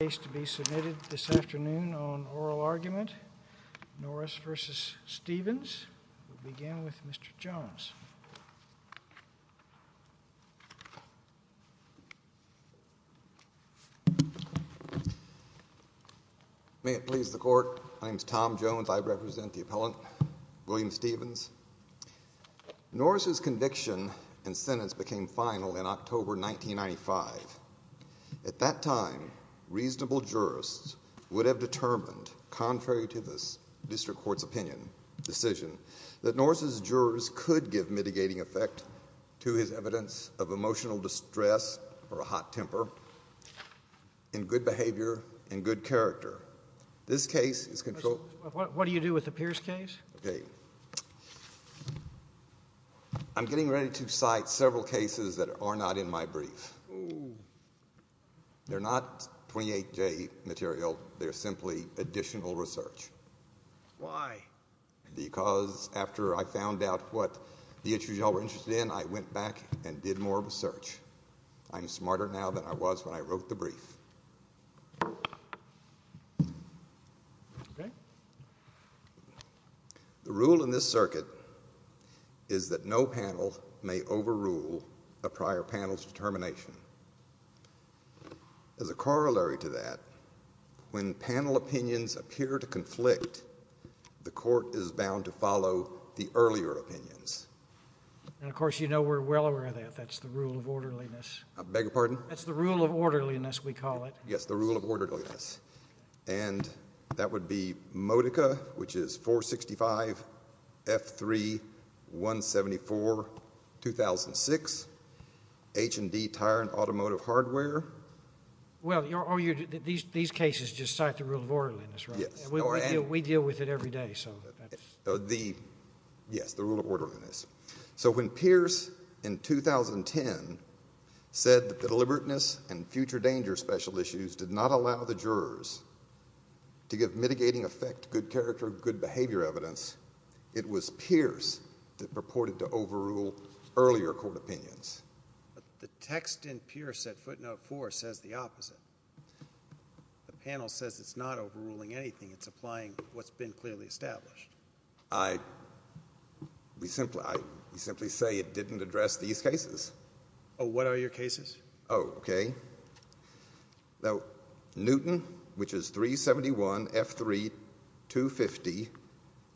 May it please the court, my name is Tom Jones, I represent the appellant William Stephens. I'm here today to discuss the case of William Stephens, Norris's conviction and sentence became final in October 1995, at that time reasonable jurists would have determined contrary to this district court's opinion, decision that Norris's jurors could give mitigating effect to his evidence of emotional distress or a hot temper and good behavior and good character. I'm here today to discuss the case of William Stephens, Norris's conviction and sentence became final in October 1995, at that time reasonable jurists would have determined contrary to this district court's opinion, decision that Norris's jurors could give mitigating effect to his evidence of emotional distress or a hot temper and good character. I'm here today to discuss the case of William Stephens, Norris's conviction and sentence became final in October 1995, at that time reasonable jurists would have determined contrary to this district court's opinion, decision that Norris's jurors could give mitigating effect to his evidence of emotional distress or a hot temper and good character and good character. I'm here today to discuss the case of William Stephens, Norris's conviction and sentence became final in October 1995, at that time reasonable jurists would have determined contrary to this district court's opinion, decision that Norris's jurors could give mitigating effect to his evidence of emotional distress or a hot temper and good character and good character. Newton, which is 371, F3, 250,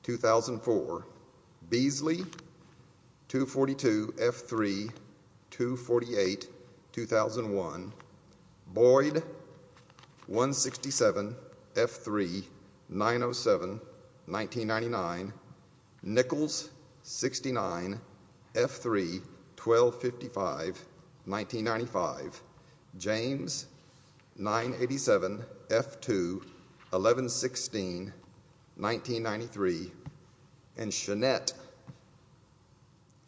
2004. Beasley, 242, F3, 248, 2001. Boyd, 167, F3, 907, 1999. Nichols, 69, F3, 1255, 1995. James, 987, F2, 1116, 1993. And Chenette,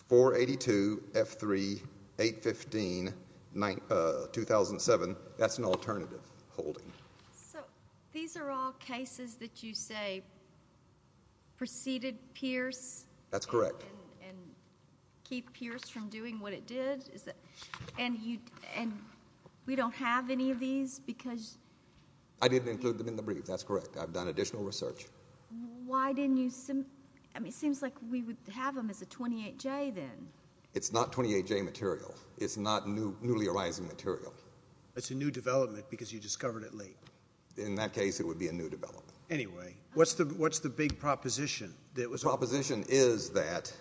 482, F3, 815, 2007. That's an alternative holding. So these are all cases that you say preceded Pierce? That's correct. And keep Pierce from doing what it did? And we don't have any of these because... I didn't include them in the brief. That's correct. I've done additional research. Why didn't you... it seems like we would have them as a 28J then. It's not 28J material. It's not newly arising material. It's a new development because you discovered it late. In that case, it would be a new development. Anyway, what's the big proposition? The big proposition is that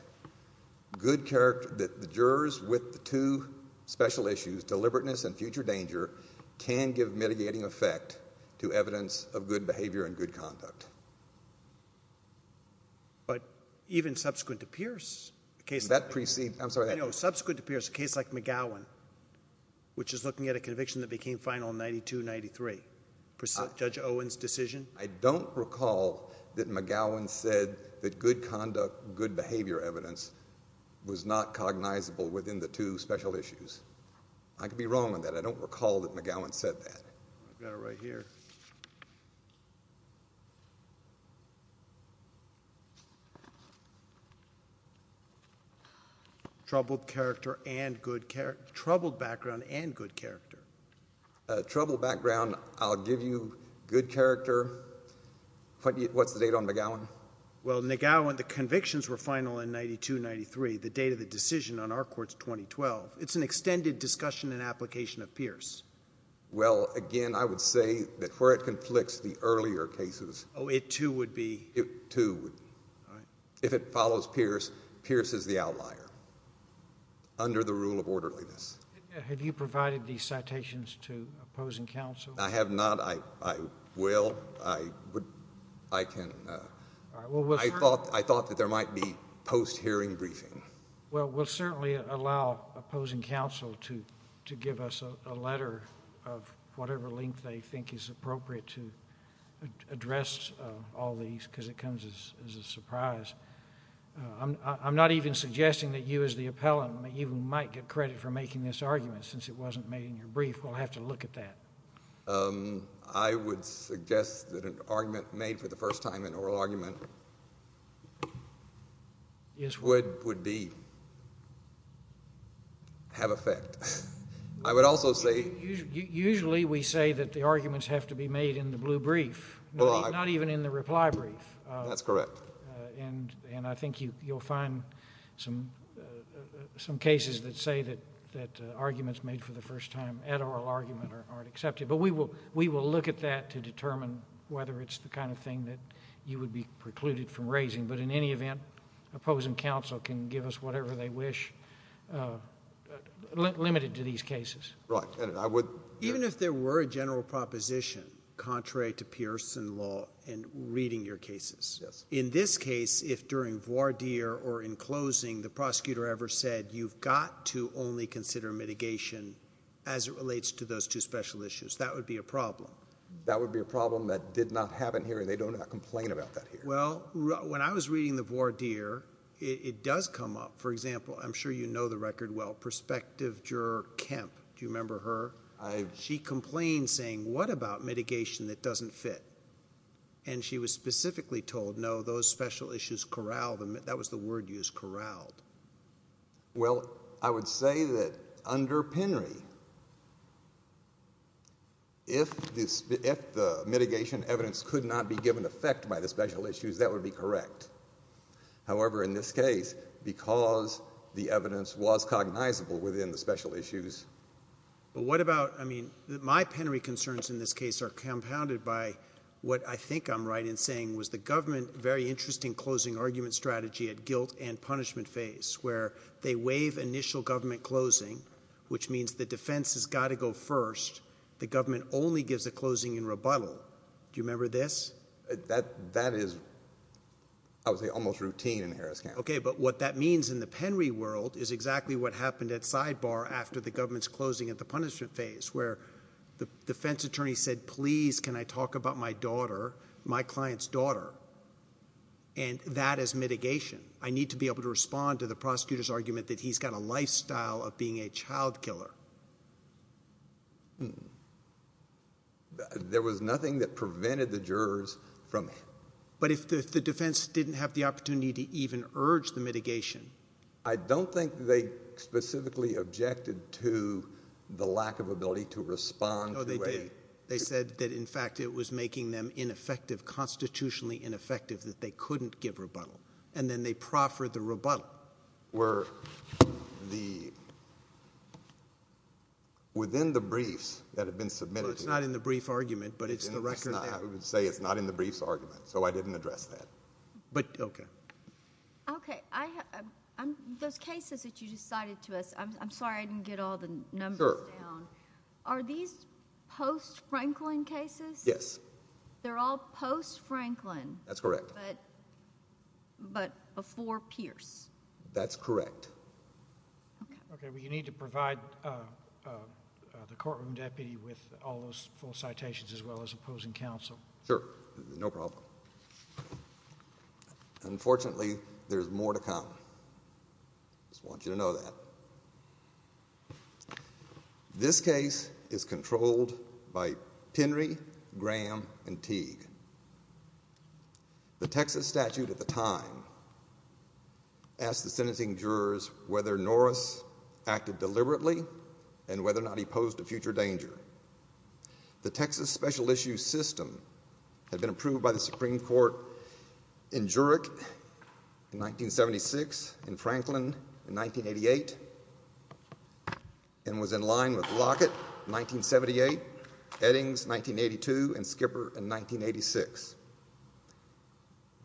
the jurors with the two special issues, deliberateness and future danger, can give mitigating effect to evidence of good behavior and good conduct. But even subsequent to Pierce... That preceded... I'm sorry. No, subsequent to Pierce, a case like McGowan, which is looking at a conviction that became final in 92-93, Judge Owen's decision. I don't recall that McGowan said that good conduct, good behavior evidence, was not cognizable within the two special issues. I could be wrong on that. I don't recall that McGowan said that. I've got it right here. Troubled background and good character. Troubled background, I'll give you good character. What's the date on McGowan? Well, McGowan, the convictions were final in 92-93, the date of the decision on our court's 2012. It's an extended discussion and application of Pierce. Well, again, I would say that where it conflicts the earlier cases... Oh, it too would be... It too would be. If it follows Pierce, Pierce is the outlier under the rule of orderliness. Have you provided these citations to opposing counsel? I have not. I will. I can... I thought that there might be post-hearing briefing. Well, we'll certainly allow opposing counsel to give us a letter of whatever length they think is appropriate to address all these, because it comes as a surprise. I'm not even suggesting that you as the appellant, that you might get credit for making this argument, since it wasn't made in your brief. We'll have to look at that. I would suggest that an argument made for the first time, an oral argument... Is what? Would be... have effect. I would also say... Usually, we say that the arguments have to be made in the blue brief, not even in the reply brief. That's correct. And I think you'll find some cases that say that arguments made for the first time at oral argument aren't accepted. But we will look at that to determine whether it's the kind of thing that you would be precluded from raising. But in any event, opposing counsel can give us whatever they wish, limited to these cases. Right. And I would... In this case, if during voir dire or in closing, the prosecutor ever said, you've got to only consider mitigation as it relates to those two special issues, that would be a problem. That would be a problem that did not happen here, and they don't complain about that here. Well, when I was reading the voir dire, it does come up. For example, I'm sure you know the record well. Prospective juror Kemp. Do you remember her? I... She complained, saying, what about mitigation that doesn't fit? And she was specifically told, no, those special issues corralled. That was the word used, corralled. Well, I would say that under Penry, if the mitigation evidence could not be given effect by the special issues, that would be correct. However, in this case, because the evidence was cognizable within the special issues... But what about... I mean, my Penry concerns in this case are compounded by what I think I'm right in saying, was the government very interested in closing argument strategy at guilt and punishment phase, where they waive initial government closing, which means the defense has got to go first. The government only gives a closing in rebuttal. Do you remember this? That is, I would say, almost routine in Harris County. Okay, but what that means in the Penry world is exactly what happened at Sidebar after the government's closing at the punishment phase, where the defense attorney said, please, can I talk about my daughter, my client's daughter? And that is mitigation. I need to be able to respond to the prosecutor's argument that he's got a lifestyle of being a child killer. There was nothing that prevented the jurors from... But if the defense didn't have the opportunity to even urge the mitigation... I don't think they specifically objected to the lack of ability to respond to a... No, they did. They said that, in fact, it was making them ineffective, constitutionally ineffective, that they couldn't give rebuttal. And then they proffered the rebuttal. Were the... within the briefs that had been submitted... Well, it's not in the brief argument, but it's the record that... I would say it's not in the briefs argument, so I didn't address that. But, okay. Okay. Those cases that you just cited to us, I'm sorry I didn't get all the numbers down. Sure. Are these post-Franklin cases? Yes. They're all post-Franklin. That's correct. But before Pierce. That's correct. Okay. Okay. Well, you need to provide the courtroom deputy with all those full citations, as well as opposing counsel. Sure. No problem. Unfortunately, there's more to come. I just want you to know that. This case is controlled by Penry, Graham, and Teague. The Texas statute at the time asked the sentencing jurors whether Norris acted deliberately and whether or not he posed a future danger. The Texas special issue system had been approved by the Supreme Court in Jurek in 1976, in Franklin in 1988, and was in line with Lockett in 1978, Eddings 1982, and Skipper in 1986.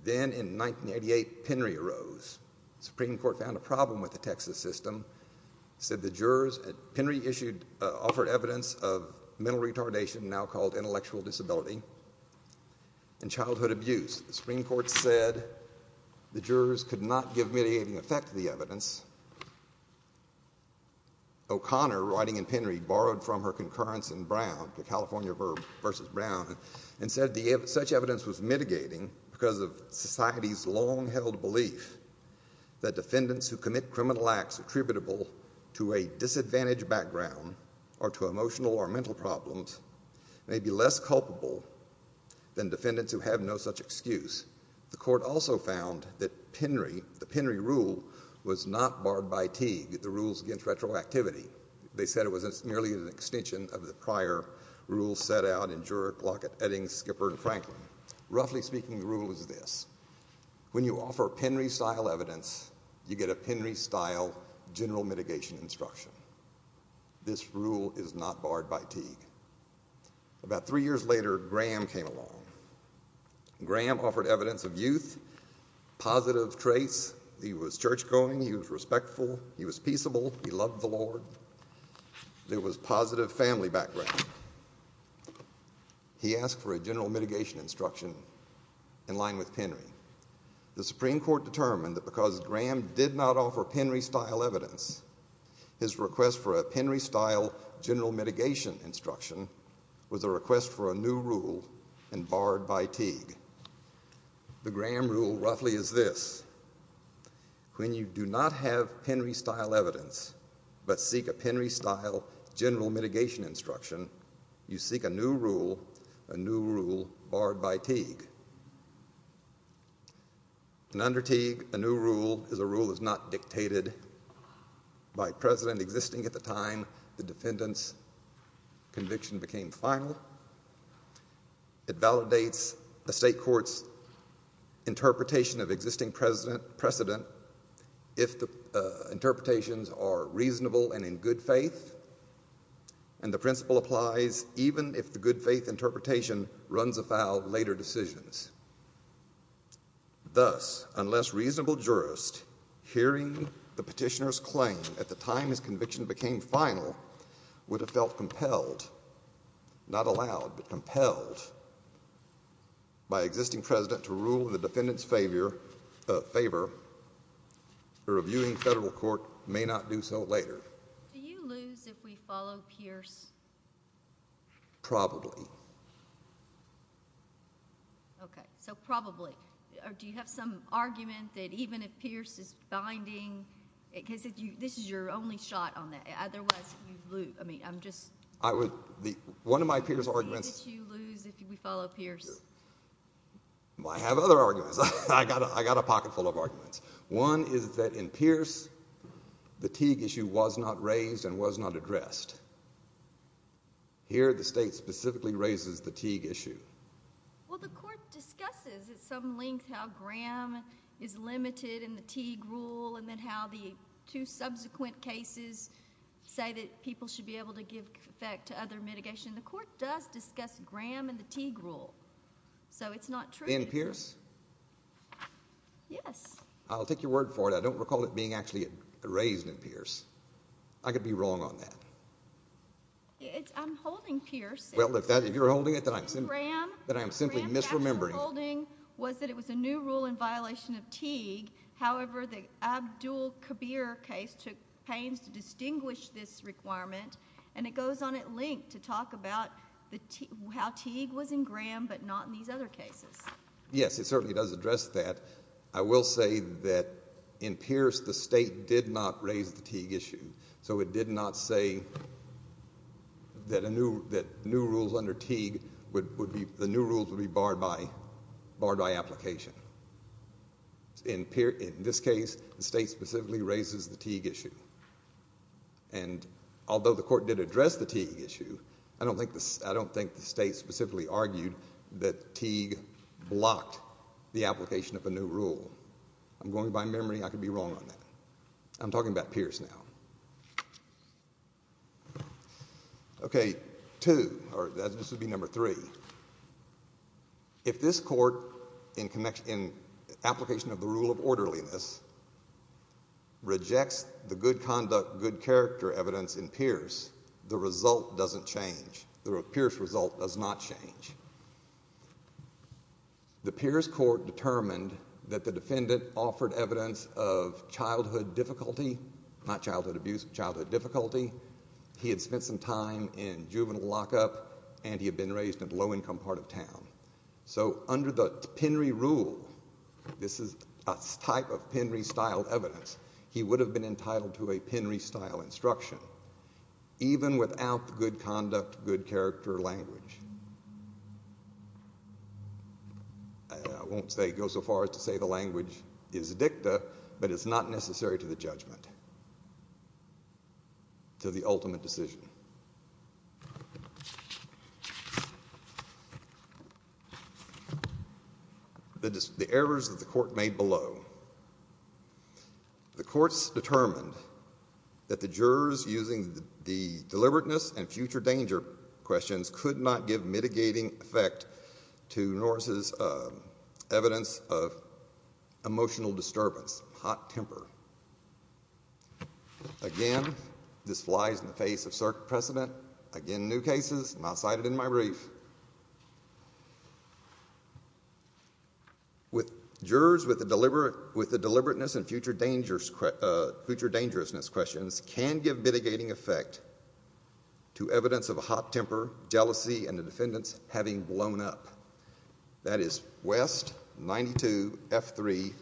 Then, in 1988, Penry arose. The Supreme Court found a problem with the Texas system. It said the jurors at Penry offered evidence of mental retardation, now called intellectual disability, and childhood abuse. The Supreme Court said the jurors could not give mitigating effect to the evidence. O'Connor, writing in Penry, borrowed from her concurrence in Brown, the California versus Brown, and said such evidence was mitigating because of society's long-held belief that defendants who commit criminal acts attributable to a disadvantaged background or to emotional or mental problems may be less culpable than defendants who have no such excuse. The court also found that the Penry rule was not barred by Teague, the rules against retroactivity. They said it was merely an extension of the prior rules set out in Jurek, Lockett, Eddings, Skipper, and Franklin. Roughly speaking, the rule was this. When you offer Penry-style evidence, you get a Penry-style general mitigation instruction. This rule is not barred by Teague. About three years later, Graham came along. Graham offered evidence of youth, positive traits. He was churchgoing. He was respectful. He was peaceable. He loved the Lord. There was positive family background. He asked for a general mitigation instruction in line with Penry. The Supreme Court determined that because Graham did not offer Penry-style evidence, his request for a Penry-style general mitigation instruction was a request for a new rule and barred by Teague. The Graham rule roughly is this. When you do not have Penry-style evidence but seek a Penry-style general mitigation instruction, you seek a new rule, a new rule barred by Teague. Under Teague, a new rule is a rule that is not dictated by precedent existing at the time the defendant's conviction became final. It validates a state court's interpretation of existing precedent if the interpretations are reasonable and in good faith. And the principle applies even if the good faith interpretation runs afoul of later decisions. Thus, unless reasonable jurist hearing the petitioner's claim at the time his conviction became final would have felt compelled, not allowed, but compelled by existing precedent to rule in the defendant's favor, the reviewing federal court may not do so later. Do you lose if we follow Pierce? Probably. Okay, so probably. Do you have some argument that even if Pierce is binding, because this is your only shot on that, otherwise you lose. I mean, I'm just. One of my Pierce arguments. Why did you lose if we follow Pierce? I have other arguments. I got a pocket full of arguments. One is that in Pierce, the Teague issue was not raised and was not addressed. Here, the state specifically raises the Teague issue. Well, the court discusses at some length how Graham is limited in the Teague rule and then how the two subsequent cases say that people should be able to give effect to other mitigation. The court does discuss Graham and the Teague rule, so it's not true. In Pierce? Yes. I'll take your word for it. I don't recall it being actually raised in Pierce. I could be wrong on that. I'm holding Pierce. Well, if you're holding it, then I'm simply misremembering. Graham's actual holding was that it was a new rule in violation of Teague. However, the Abdul Kabir case took pains to distinguish this requirement, and it goes on at length to talk about how Teague was in Graham but not in these other cases. Yes, it certainly does address that. I will say that in Pierce, the state did not raise the Teague issue, so it did not say that new rules under Teague would be barred by application. In this case, the state specifically raises the Teague issue. Although the court did address the Teague issue, I don't think the state specifically argued that Teague blocked the application of a new rule. I'm going by memory. I could be wrong on that. I'm talking about Pierce now. Okay, two, or this would be number three. If this court, in application of the rule of orderliness, rejects the good conduct, good character evidence in Pierce, the result doesn't change. The Pierce result does not change. The Pierce court determined that the defendant offered evidence of childhood difficulty, not childhood abuse, childhood difficulty. He had spent some time in juvenile lockup, and he had been raised in a low-income part of town. So under the Penry rule, this is a type of Penry-style evidence, he would have been entitled to a Penry-style instruction, even without good conduct, good character language. I won't go so far as to say the language is dicta, but it's not necessary to the judgment, to the ultimate decision. The errors that the court made below. The courts determined that the jurors using the deliberateness and future danger questions could not give mitigating effect to Norris' evidence of emotional disturbance, hot temper. Again, this flies in the face of circuit precedent. Again, new cases, not cited in my brief. Jurors with the deliberateness and future dangerousness questions can give mitigating effect to evidence of hot temper, jealousy, and the defendant's having blown up. That is West, 92, F3,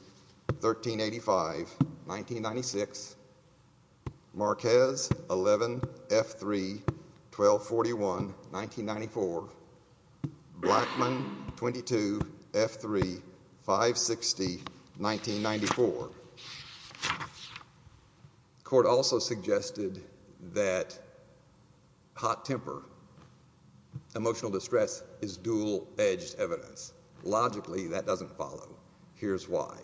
1385, 1996. Marquez, 11, F3, 1241, 1994. Blackman, 22, F3, 560, 1994. The court also suggested that hot temper, emotional distress, is dual-edged evidence. Logically, that doesn't follow. Here's why.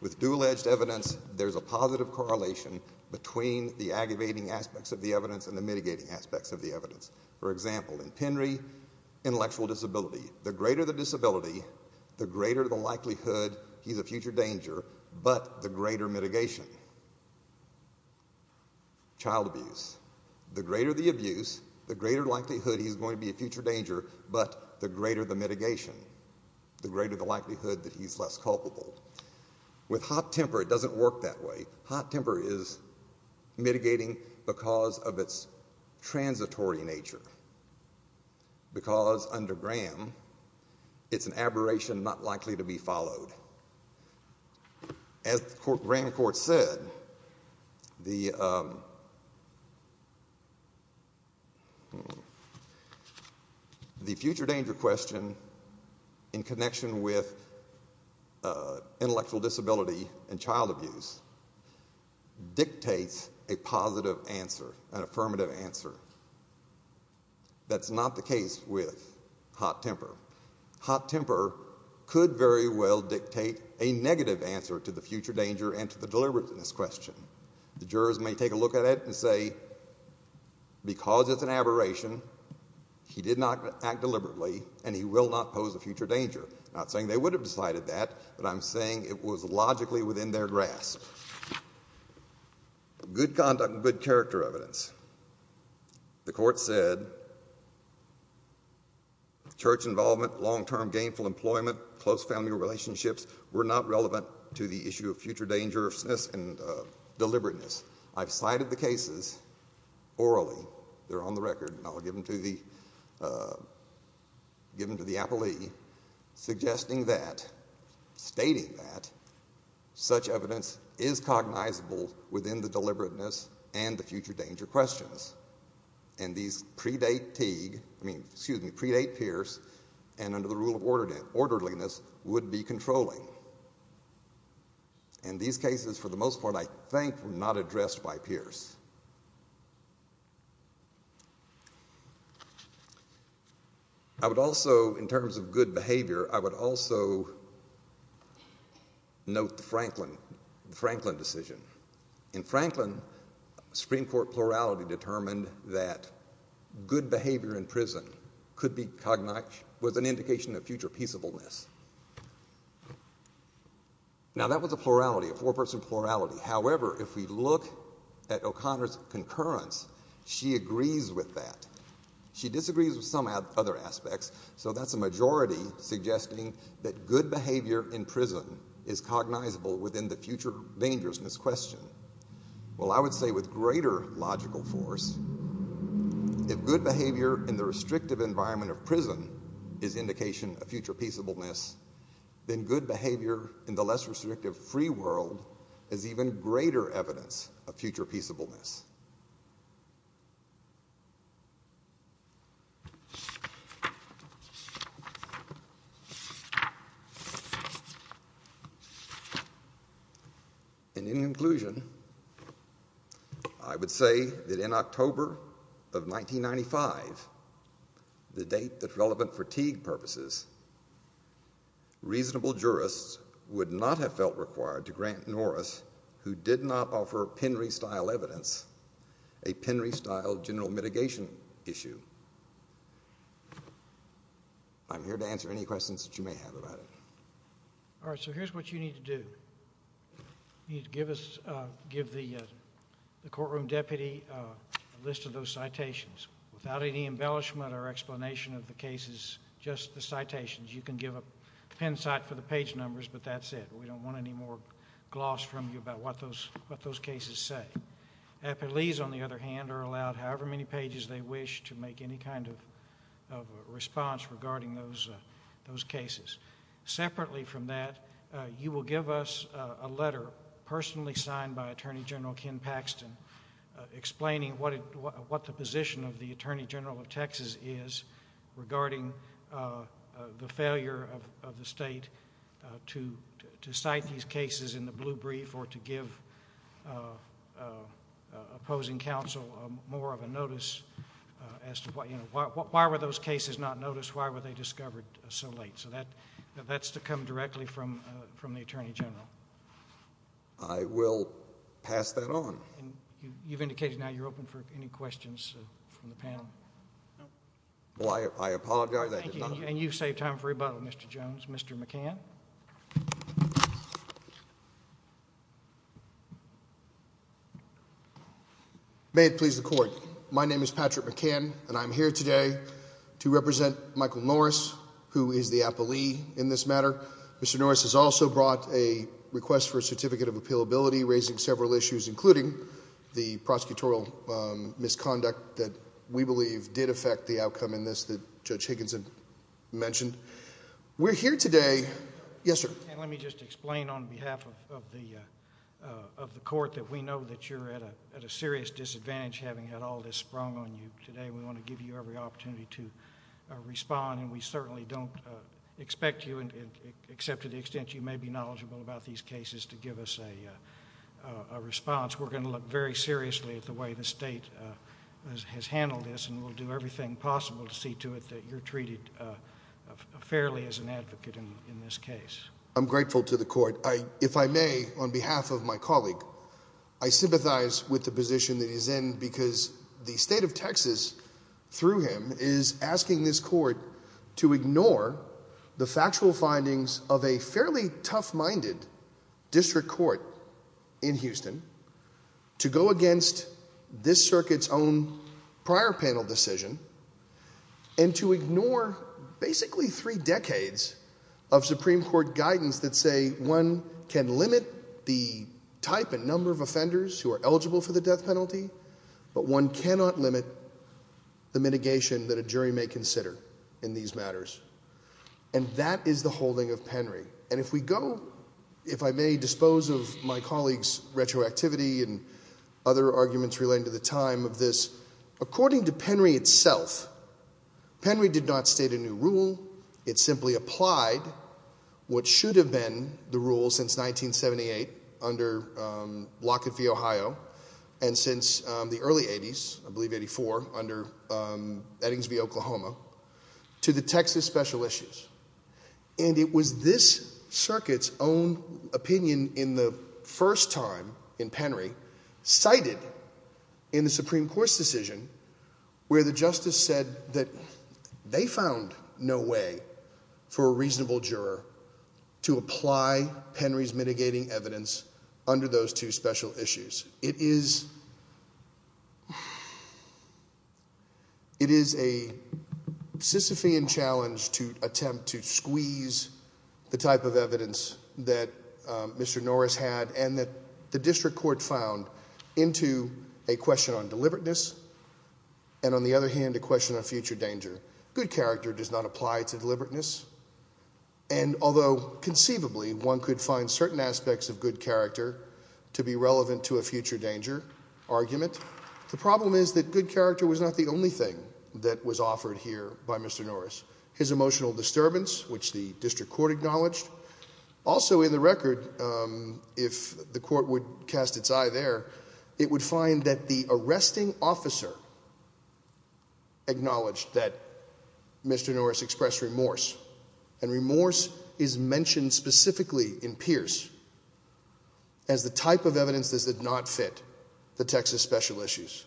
With dual-edged evidence, there's a positive correlation between the aggravating aspects of the evidence and the mitigating aspects of the evidence. For example, in Penry, intellectual disability. The greater the disability, the greater the likelihood he's a future danger, but the greater mitigation. Child abuse. The greater the abuse, the greater likelihood he's going to be a future danger, but the greater the mitigation, the greater the likelihood that he's less culpable. With hot temper, it doesn't work that way. Hot temper is mitigating because of its transitory nature. Because under Graham, it's an aberration not likely to be followed. As Graham court said, the future danger question in connection with intellectual disability and child abuse dictates a positive answer, an affirmative answer. That's not the case with hot temper. Hot temper could very well dictate a negative answer to the future danger and to the deliberateness question. The jurors may take a look at it and say, because it's an aberration, he did not act deliberately, and he will not pose a future danger. I'm not saying they would have decided that, but I'm saying it was logically within their grasp. Good conduct, good character evidence. The court said church involvement, long-term gainful employment, close family relationships were not relevant to the issue of future dangerousness and deliberateness. I've cited the cases orally. They're on the record, and I'll give them to the appellee, suggesting that, stating that, such evidence is cognizable within the deliberateness and the future danger questions. And these predate Teague, I mean, excuse me, predate Pierce, and under the rule of orderliness, would be controlling. And these cases, for the most part, I think were not addressed by Pierce. I would also, in terms of good behavior, I would also note the Franklin decision. In Franklin, Supreme Court plurality determined that good behavior in prison could be cognized, was an indication of future peaceableness. Now, that was a plurality, a four-person plurality. However, if we look at O'Connor's concurrence, she agrees with that. She disagrees with some other aspects, so that's a majority suggesting that good behavior in prison is cognizable within the future dangerousness question. Well, I would say with greater logical force, if good behavior in the restrictive environment of prison is indication of future peaceableness, then good behavior in the less restrictive free world is even greater evidence of future peaceableness. And in conclusion, I would say that in October of 1995, the date that relevant for Teague purposes, reasonable jurists would not have felt required to grant Norris, who did not offer Penry-style evidence, a Penry-style general mitigation issue. I'm here to answer any questions that you may have about it. All right, so here's what you need to do. You need to give the courtroom deputy a list of those citations without any embellishment or explanation of the cases, just the citations. You can give a pen cite for the page numbers, but that's it. We don't want any more gloss from you about what those cases say. Appellees, on the other hand, are allowed however many pages they wish to make any kind of response regarding those cases. Separately from that, you will give us a letter personally signed by Attorney General Ken Paxton explaining what the position of the Attorney General of Texas is regarding the failure of the state to cite these cases in the blue brief or to give opposing counsel more of a notice as to why were those cases not noticed, why were they discovered so late. So that's to come directly from the Attorney General. I will pass that on. You've indicated now you're open for any questions from the panel. Well, I apologize. And you've saved time for rebuttal, Mr. Jones. Mr. McCann. May it please the Court. My name is Patrick McCann, and I'm here today to represent Michael Norris, who is the appellee in this matter. Mr. Norris has also brought a request for a certificate of appealability, raising several issues, including the prosecutorial misconduct that we believe did affect the outcome in this that Judge Higginson mentioned. We're here today... Yes, sir.... and let me just explain on behalf of the Court that we know that you're at a serious disadvantage having had all this sprung on you today. We want to give you every opportunity to respond, and we certainly don't expect you, except to the extent you may be knowledgeable about these cases, to give us a response. We're going to look very seriously at the way the State has handled this, and we'll do everything possible to see to it that you're treated fairly as an advocate in this case. I'm grateful to the Court. If I may, on behalf of my colleague, I sympathize with the position that he's in because the State of Texas, through him, is asking this Court to ignore the factual findings of a fairly tough-minded district court in Houston, to go against this circuit's own prior panel decision, and to ignore basically three decades of Supreme Court guidance that say one can limit the type and number of offenders who are eligible for the death penalty, but one cannot limit the mitigation that a jury may consider in these matters. And that is the holding of Penry. And if we go, if I may dispose of my colleague's retroactivity and other arguments relating to the time of this, according to Penry itself, Penry did not state a new rule. It simply applied what should have been the rule since 1978 under Lockett v. Ohio, and since the early 80s, I believe 84, under Eddings v. Oklahoma, to the Texas special issues. And it was this circuit's own opinion in the first time in Penry cited in the Supreme Court's decision where the justice said that they found no way for a reasonable juror to apply Penry's mitigating evidence under those two special issues. It is a Sisyphean challenge to attempt to squeeze the type of evidence that Mr. Norris had and that the district court found into a question on deliberateness, and on the other hand, a question on future danger. Good character does not apply to deliberateness, and although conceivably one could find certain aspects of good character to be relevant to a future danger argument, the problem is that good character was not the only thing that was offered here by Mr. Norris. His emotional disturbance, which the district court acknowledged, also in the record, if the court would cast its eye there, it would find that the arresting officer acknowledged that Mr. Norris expressed remorse, and remorse is mentioned specifically in Pierce as the type of evidence that did not fit the Texas special issues.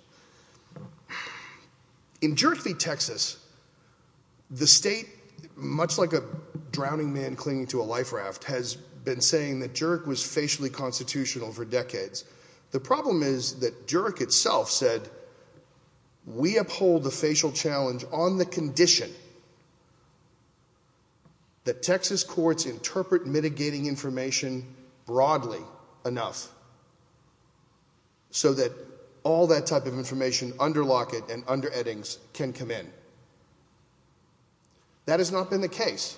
In Jurek v. Texas, the state, much like a drowning man clinging to a life raft, has been saying that Jurek was facially constitutional for decades. The problem is that Jurek itself said, we uphold the facial challenge on the condition that Texas courts interpret mitigating information broadly enough so that all that type of information under Lockett and under Eddings can come in. That has not been the case.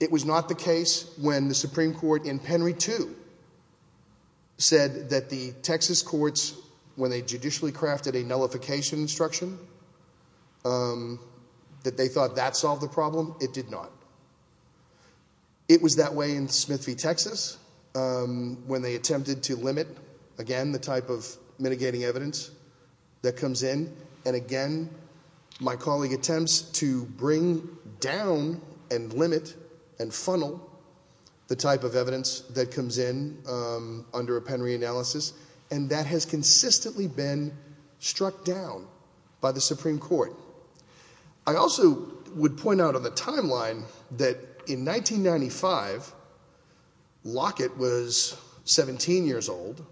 It was not the case when the Supreme Court in Penry 2 said that the Texas courts, when they judicially crafted a nullification instruction, that they thought that solved the problem. It did not. It was that way in Smith v. Texas when they attempted to limit, again, the type of mitigating evidence that comes in, and again, my colleague attempts to bring down and limit and funnel the type of evidence that comes in under a Penry analysis, and that has consistently been struck down by the Supreme Court. I also would point out on the timeline that in 1995, Lockett was 17 years old,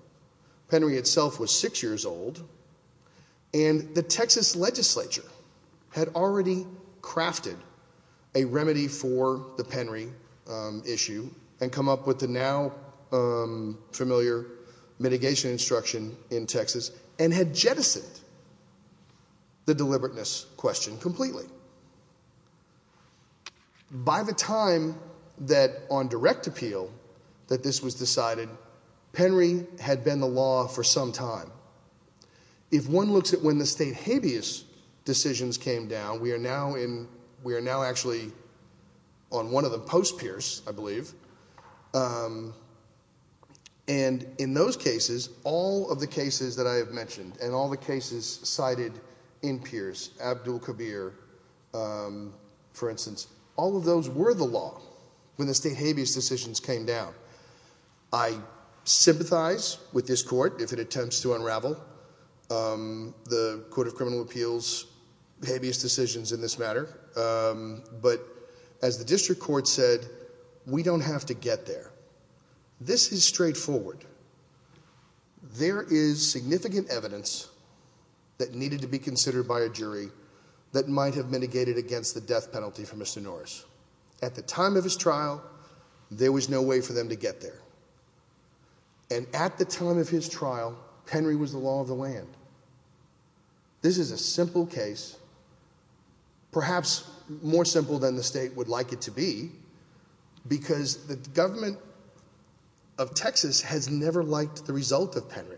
Penry itself was 6 years old, and the Texas legislature had already crafted a remedy for the Penry issue and come up with the now familiar mitigation instruction in Texas and had jettisoned the deliberateness. Now, I'm not going to go through this question completely. By the time that on direct appeal that this was decided, Penry had been the law for some time. If one looks at when the state habeas decisions came down, we are now actually on one of the post-Pierce, I believe, and in those cases, all of the cases that I have mentioned and all the cases cited in Pierce, Abdul Kabir, for instance, all of those were the law when the state habeas decisions came down. I sympathize with this court if it attempts to unravel the court of criminal appeals habeas decisions in this matter, but as the district court said, we don't have to get there. This is straightforward. There is significant evidence that needed to be considered by a jury that might have mitigated against the death penalty for Mr. Norris. At the time of his trial, there was no way for them to get there, and at the time of his trial, Penry was the law of the land. This is a simple case, perhaps more simple than the state would like it to be, because the government of Texas has never liked the result of Penry.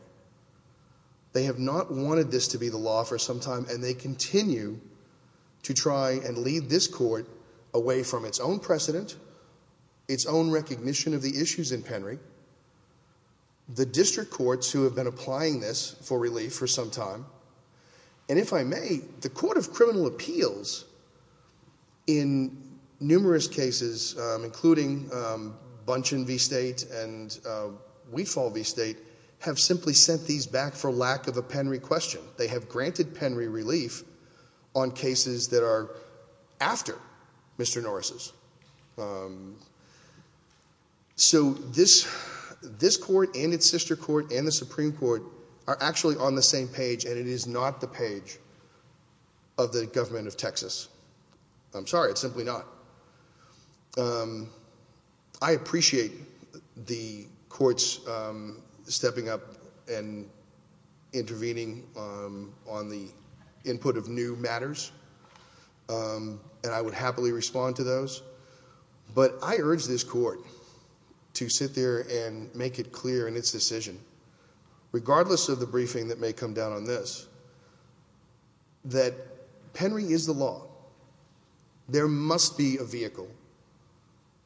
They have not wanted this to be the law for some time, and they continue to try and lead this court away from its own precedent, its own recognition of the issues in Penry. The district courts who have been applying this for relief for some time, and if I may, the court of criminal appeals in numerous cases, including Bunchen v. State and Wefall v. State, have simply sent these back for lack of a Penry question. They have granted Penry relief on cases that are after Mr. Norris'. So this court and its sister court and the Supreme Court are actually on the same page, and it is not the page of the government of Texas. I'm sorry, it's simply not. I appreciate the courts stepping up and intervening on the input of new matters, and I would happily respond to those. But I urge this court to sit there and make it clear in its decision, regardless of the briefing that may come down on this, that Penry is the law. There must be a vehicle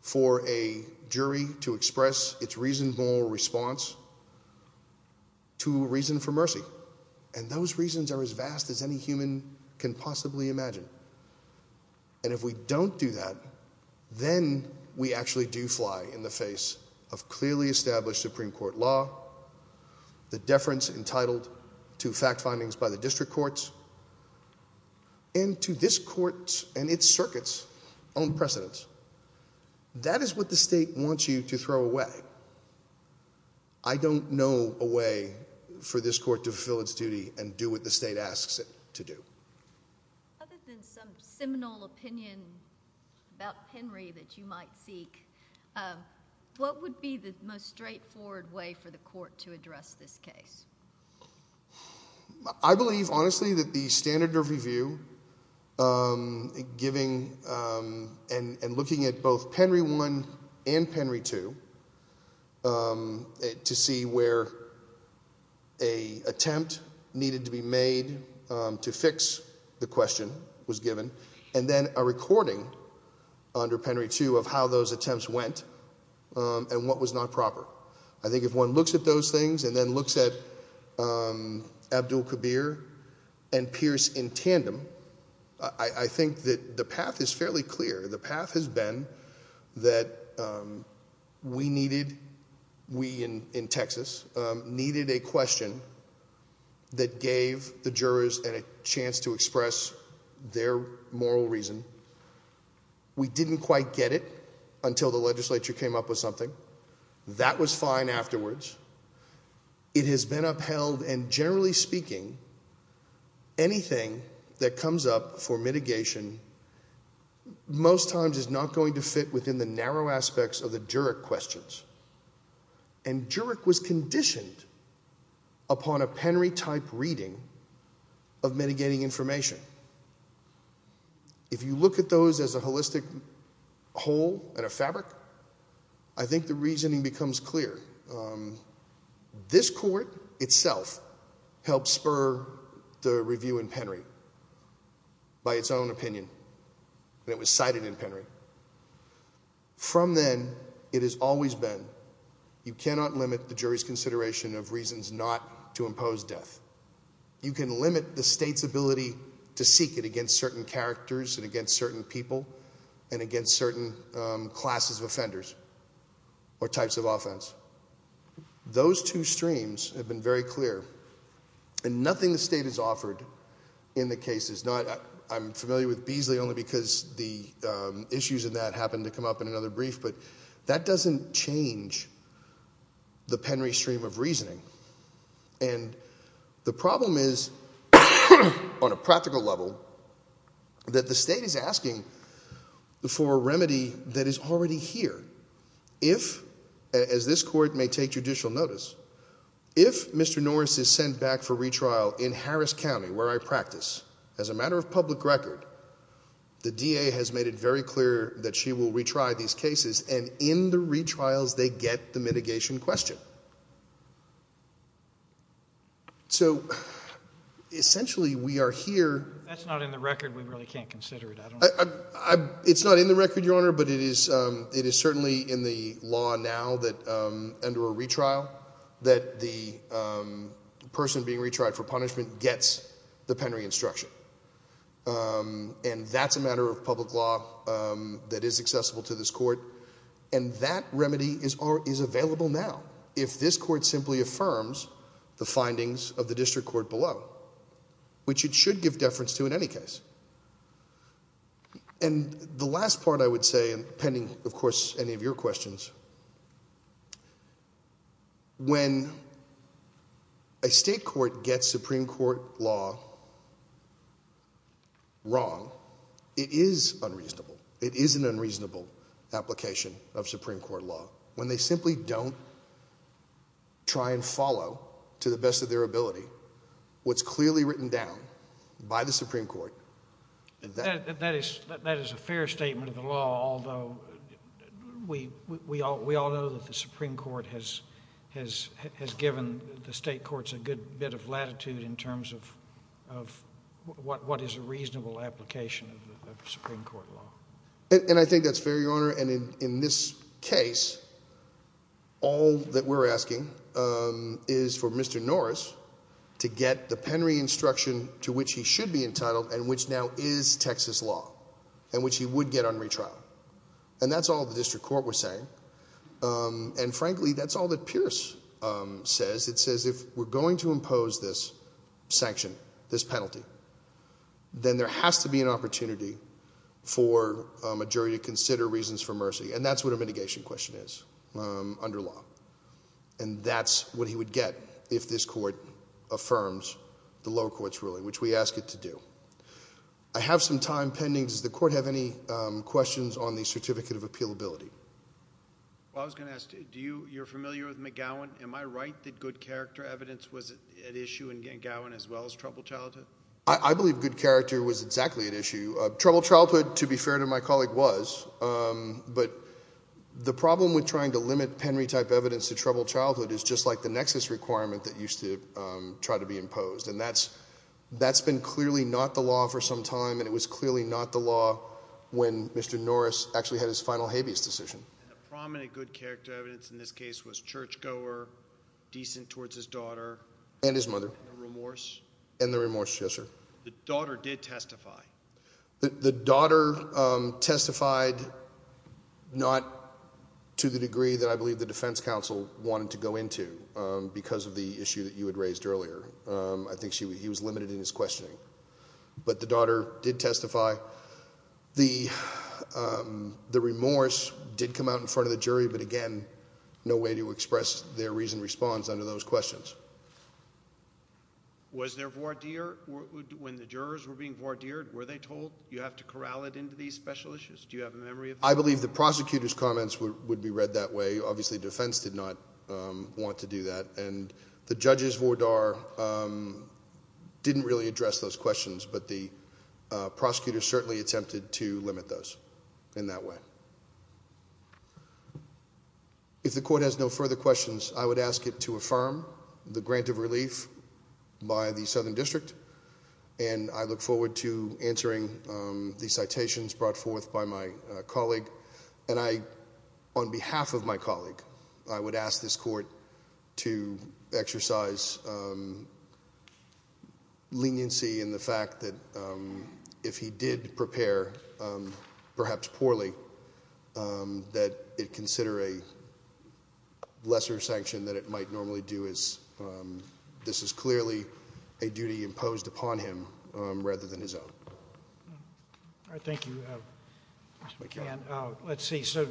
for a jury to express its reasonable response to a reason for mercy, and those reasons are as vast as any human can possibly imagine. And if we don't do that, then we actually do fly in the face of clearly established Supreme Court law, the deference entitled to fact findings by the district courts, and to this court and its circuits' own precedence. That is what the state wants you to throw away. I don't know a way for this court to fulfill its duty and do what the state asks it to do. Other than some seminal opinion about Penry that you might seek, what would be the most straightforward way for the court to address this case? I believe, honestly, that the standard of review giving and looking at both Penry I and Penry II to see where an attempt needed to be made to fix the question was given, and then a recording under Penry II of how those attempts went and what was not proper. I think if one looks at those things and then looks at Abdul Kabir and Pierce in tandem, I think that the path is fairly clear. The path has been that we needed, we in Texas, needed a question that gave the jurors a chance to express their moral reason. We didn't quite get it until the legislature came up with something. That was fine afterwards. It has been upheld, and generally speaking, anything that comes up for mitigation most times is not going to fit within the narrow aspects of the juric questions. And juric was conditioned upon a Penry-type reading of mitigating information. If you look at those as a holistic whole and a fabric, I think the reasoning becomes clear. This court itself helped spur the review in Penry by its own opinion, and it was cited in Penry. From then, it has always been you cannot limit the jury's consideration of reasons not to impose death. You can limit the state's ability to seek it against certain characters and against certain people and against certain classes of offenders or types of offense. Those two streams have been very clear, and nothing the state has offered in the case is not, I'm familiar with Beasley only because the issues in that happened to come up in another brief, but that doesn't change the Penry stream of reasoning. And the problem is, on a practical level, that the state is asking for a remedy that is already here. If, as this court may take judicial notice, if Mr. Norris is sent back for retrial in Harris County, where I practice, as a matter of public record, the DA has made it very clear that she will retry these cases, and in the retrials, they get the mitigation question. So, essentially, we are here- That's not in the record. We really can't consider it. It's not in the record, Your Honor, but it is certainly in the law now that, under a retrial, that the person being retried for punishment gets the Penry instruction. And that's a matter of public law that is accessible to this court. And that remedy is available now, if this court simply affirms the findings of the district court below, which it should give deference to in any case. And the last part I would say, and pending, of course, any of your questions, when a state court gets Supreme Court law wrong, it is unreasonable. It is an unreasonable application of Supreme Court law. When they simply don't try and follow, to the best of their ability, what's clearly written down by the Supreme Court- That is a fair statement of the law, although we all know that the Supreme Court has given the state courts a good bit of latitude in terms of what is a reasonable application of Supreme Court law. And I think that's fair, Your Honor, and in this case, all that we're asking is for Mr. Norris to get the Penry instruction to which he should be entitled, and which now is Texas law, and which he would get on retrial. And that's all the district court was saying. And frankly, that's all that Pierce says. It says if we're going to impose this sanction, this penalty, then there has to be an opportunity for a jury to consider reasons for mercy. And that's what a mitigation question is under law. And that's what he would get if this court affirms the low court's ruling, which we ask it to do. I have some time pending. Does the court have any questions on the certificate of appealability? I was going to ask, you're familiar with McGowan. Am I right that good character evidence was at issue in McGowan as well as troubled childhood? I believe good character was exactly at issue. Troubled childhood, to be fair to my colleague, was. But the problem with trying to limit Penry-type evidence to troubled childhood is just like the nexus requirement that used to try to be imposed. And that's been clearly not the law for some time, and it was clearly not the law when Mr. Norris actually had his final habeas decision. And the prominent good character evidence in this case was churchgoer, decent towards his daughter. And his mother. And the remorse. And the remorse, yes, sir. The daughter did testify. The daughter testified not to the degree that I believe the defense counsel wanted to go into because of the issue that you had raised earlier. I think he was limited in his questioning. But the daughter did testify. The remorse did come out in front of the jury, but again, no way to express their reasoned response under those questions. Was there voir dire? When the jurors were being voir dire, were they told you have to corral it into these special issues? Do you have a memory of that? I believe the prosecutor's comments would be read that way. Obviously, defense did not want to do that. And the judge's voir dire didn't really address those questions, but the prosecutor certainly attempted to limit those in that way. If the court has no further questions, I would ask it to affirm the grant of relief by the Southern District. And I look forward to answering the citations brought forth by my colleague. And I, on behalf of my colleague, I would ask this court to exercise leniency in the fact that if he did prepare, perhaps poorly, that it consider a lesser sanction than it might normally do. This is clearly a duty imposed upon him rather than his own. All right, thank you, Mr. McCann. Let's see, so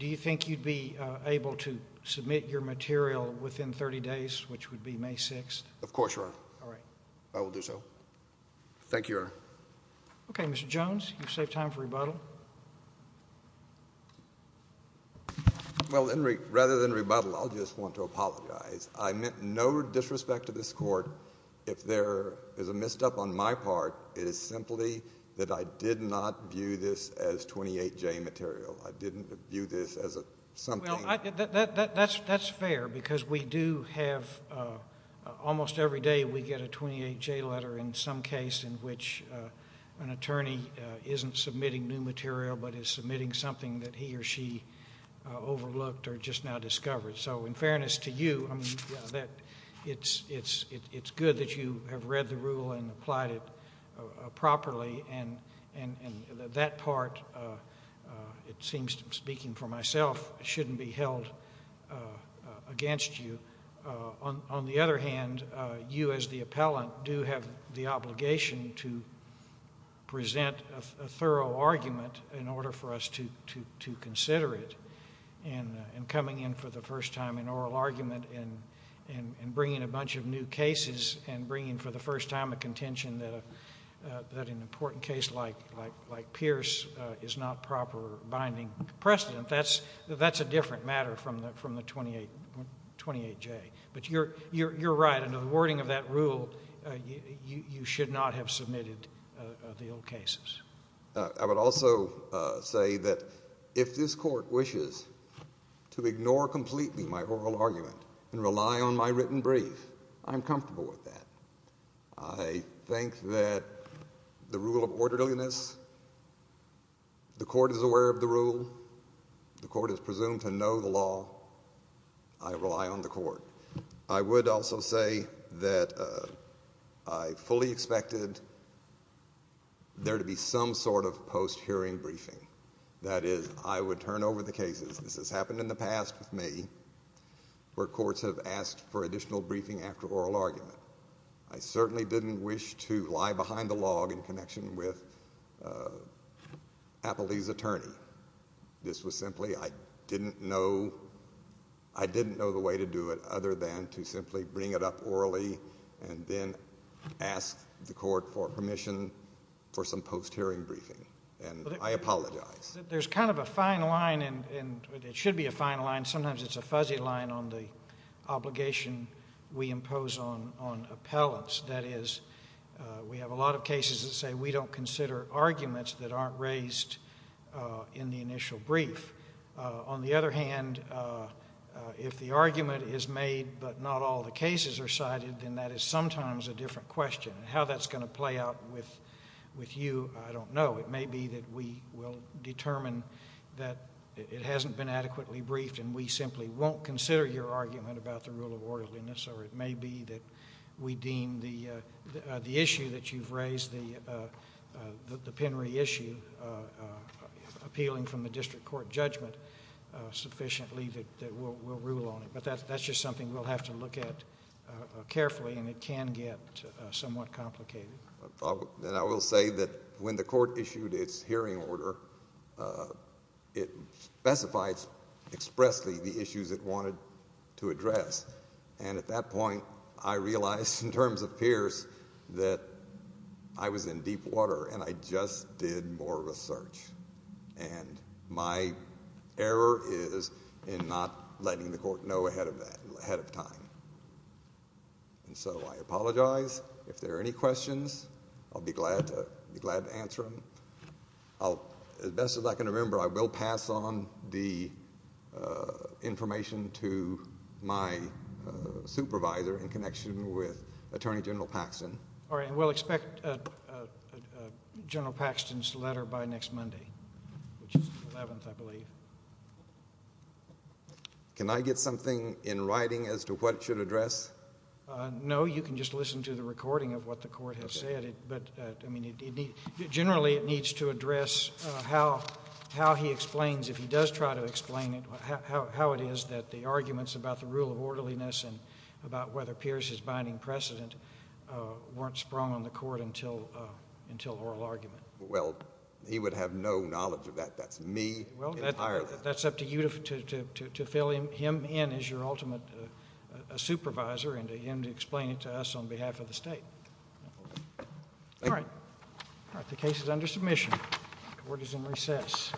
do you think you'd be able to submit your material within 30 days, which would be May 6th? Of course, Your Honor. All right. I will do so. Thank you, Your Honor. Okay, Mr. Jones, you've saved time for rebuttal. Well, rather than rebuttal, I'll just want to apologize. I meant no disrespect to this court. If there is a messed up on my part, it is simply that I did not view this as 28J material. I didn't view this as something. Well, that's fair because we do have almost every day we get a 28J letter in some case in which an attorney isn't submitting new material, but is submitting something that he or she overlooked or just now discovered. So in fairness to you, it's good that you have read the rule and applied it properly, and that part, it seems, speaking for myself, shouldn't be held against you. On the other hand, you as the appellant do have the obligation to present a thorough argument in order for us to consider it. And coming in for the first time in oral argument and bringing a bunch of new cases and bringing for the first time a contention that an important case like Pierce is not proper binding precedent, that's a different matter from the 28J. But you're right. Under the wording of that rule, you should not have submitted the old cases. I would also say that if this court wishes to ignore completely my oral argument and rely on my written brief, I'm comfortable with that. I think that the rule of orderliness, the court is aware of the rule. The court is presumed to know the law. I rely on the court. I would also say that I fully expected there to be some sort of post-hearing briefing. That is, I would turn over the cases. This has happened in the past with me where courts have asked for additional briefing after oral argument. I certainly didn't wish to lie behind the log in connection with Appley's attorney. This was simply I didn't know the way to do it other than to simply bring it up orally and then ask the court for permission for some post-hearing briefing, and I apologize. There's kind of a fine line, and it should be a fine line. Sometimes it's a fuzzy line on the obligation we impose on appellants. That is, we have a lot of cases that say we don't consider arguments that aren't raised in the initial brief. On the other hand, if the argument is made but not all the cases are cited, then that is sometimes a different question. How that's going to play out with you, I don't know. It may be that we will determine that it hasn't been adequately briefed, and we simply won't consider your argument about the rule of orderliness, or it may be that we deem the issue that you've raised, the Penry issue, appealing from the district court judgment sufficiently that we'll rule on it. But that's just something we'll have to look at carefully, and it can get somewhat complicated. I will say that when the court issued its hearing order, it specified expressly the issues it wanted to address. At that point, I realized in terms of Pierce that I was in deep water, and I just did more research. My error is in not letting the court know ahead of time. And so I apologize. If there are any questions, I'll be glad to answer them. As best as I can remember, I will pass on the information to my supervisor in connection with Attorney General Paxton. All right, and we'll expect General Paxton's letter by next Monday, which is the 11th, I believe. Can I get something in writing as to what it should address? No, you can just listen to the recording of what the court has said. But, I mean, generally it needs to address how he explains, if he does try to explain it, how it is that the arguments about the rule of orderliness and about whether Pierce is binding precedent weren't sprung on the court until oral argument. Well, he would have no knowledge of that. That's me entirely. Well, that's up to you to fill him in as your ultimate supervisor and to him to explain it to us on behalf of the state. All right, the case is under submission. The court is in recess.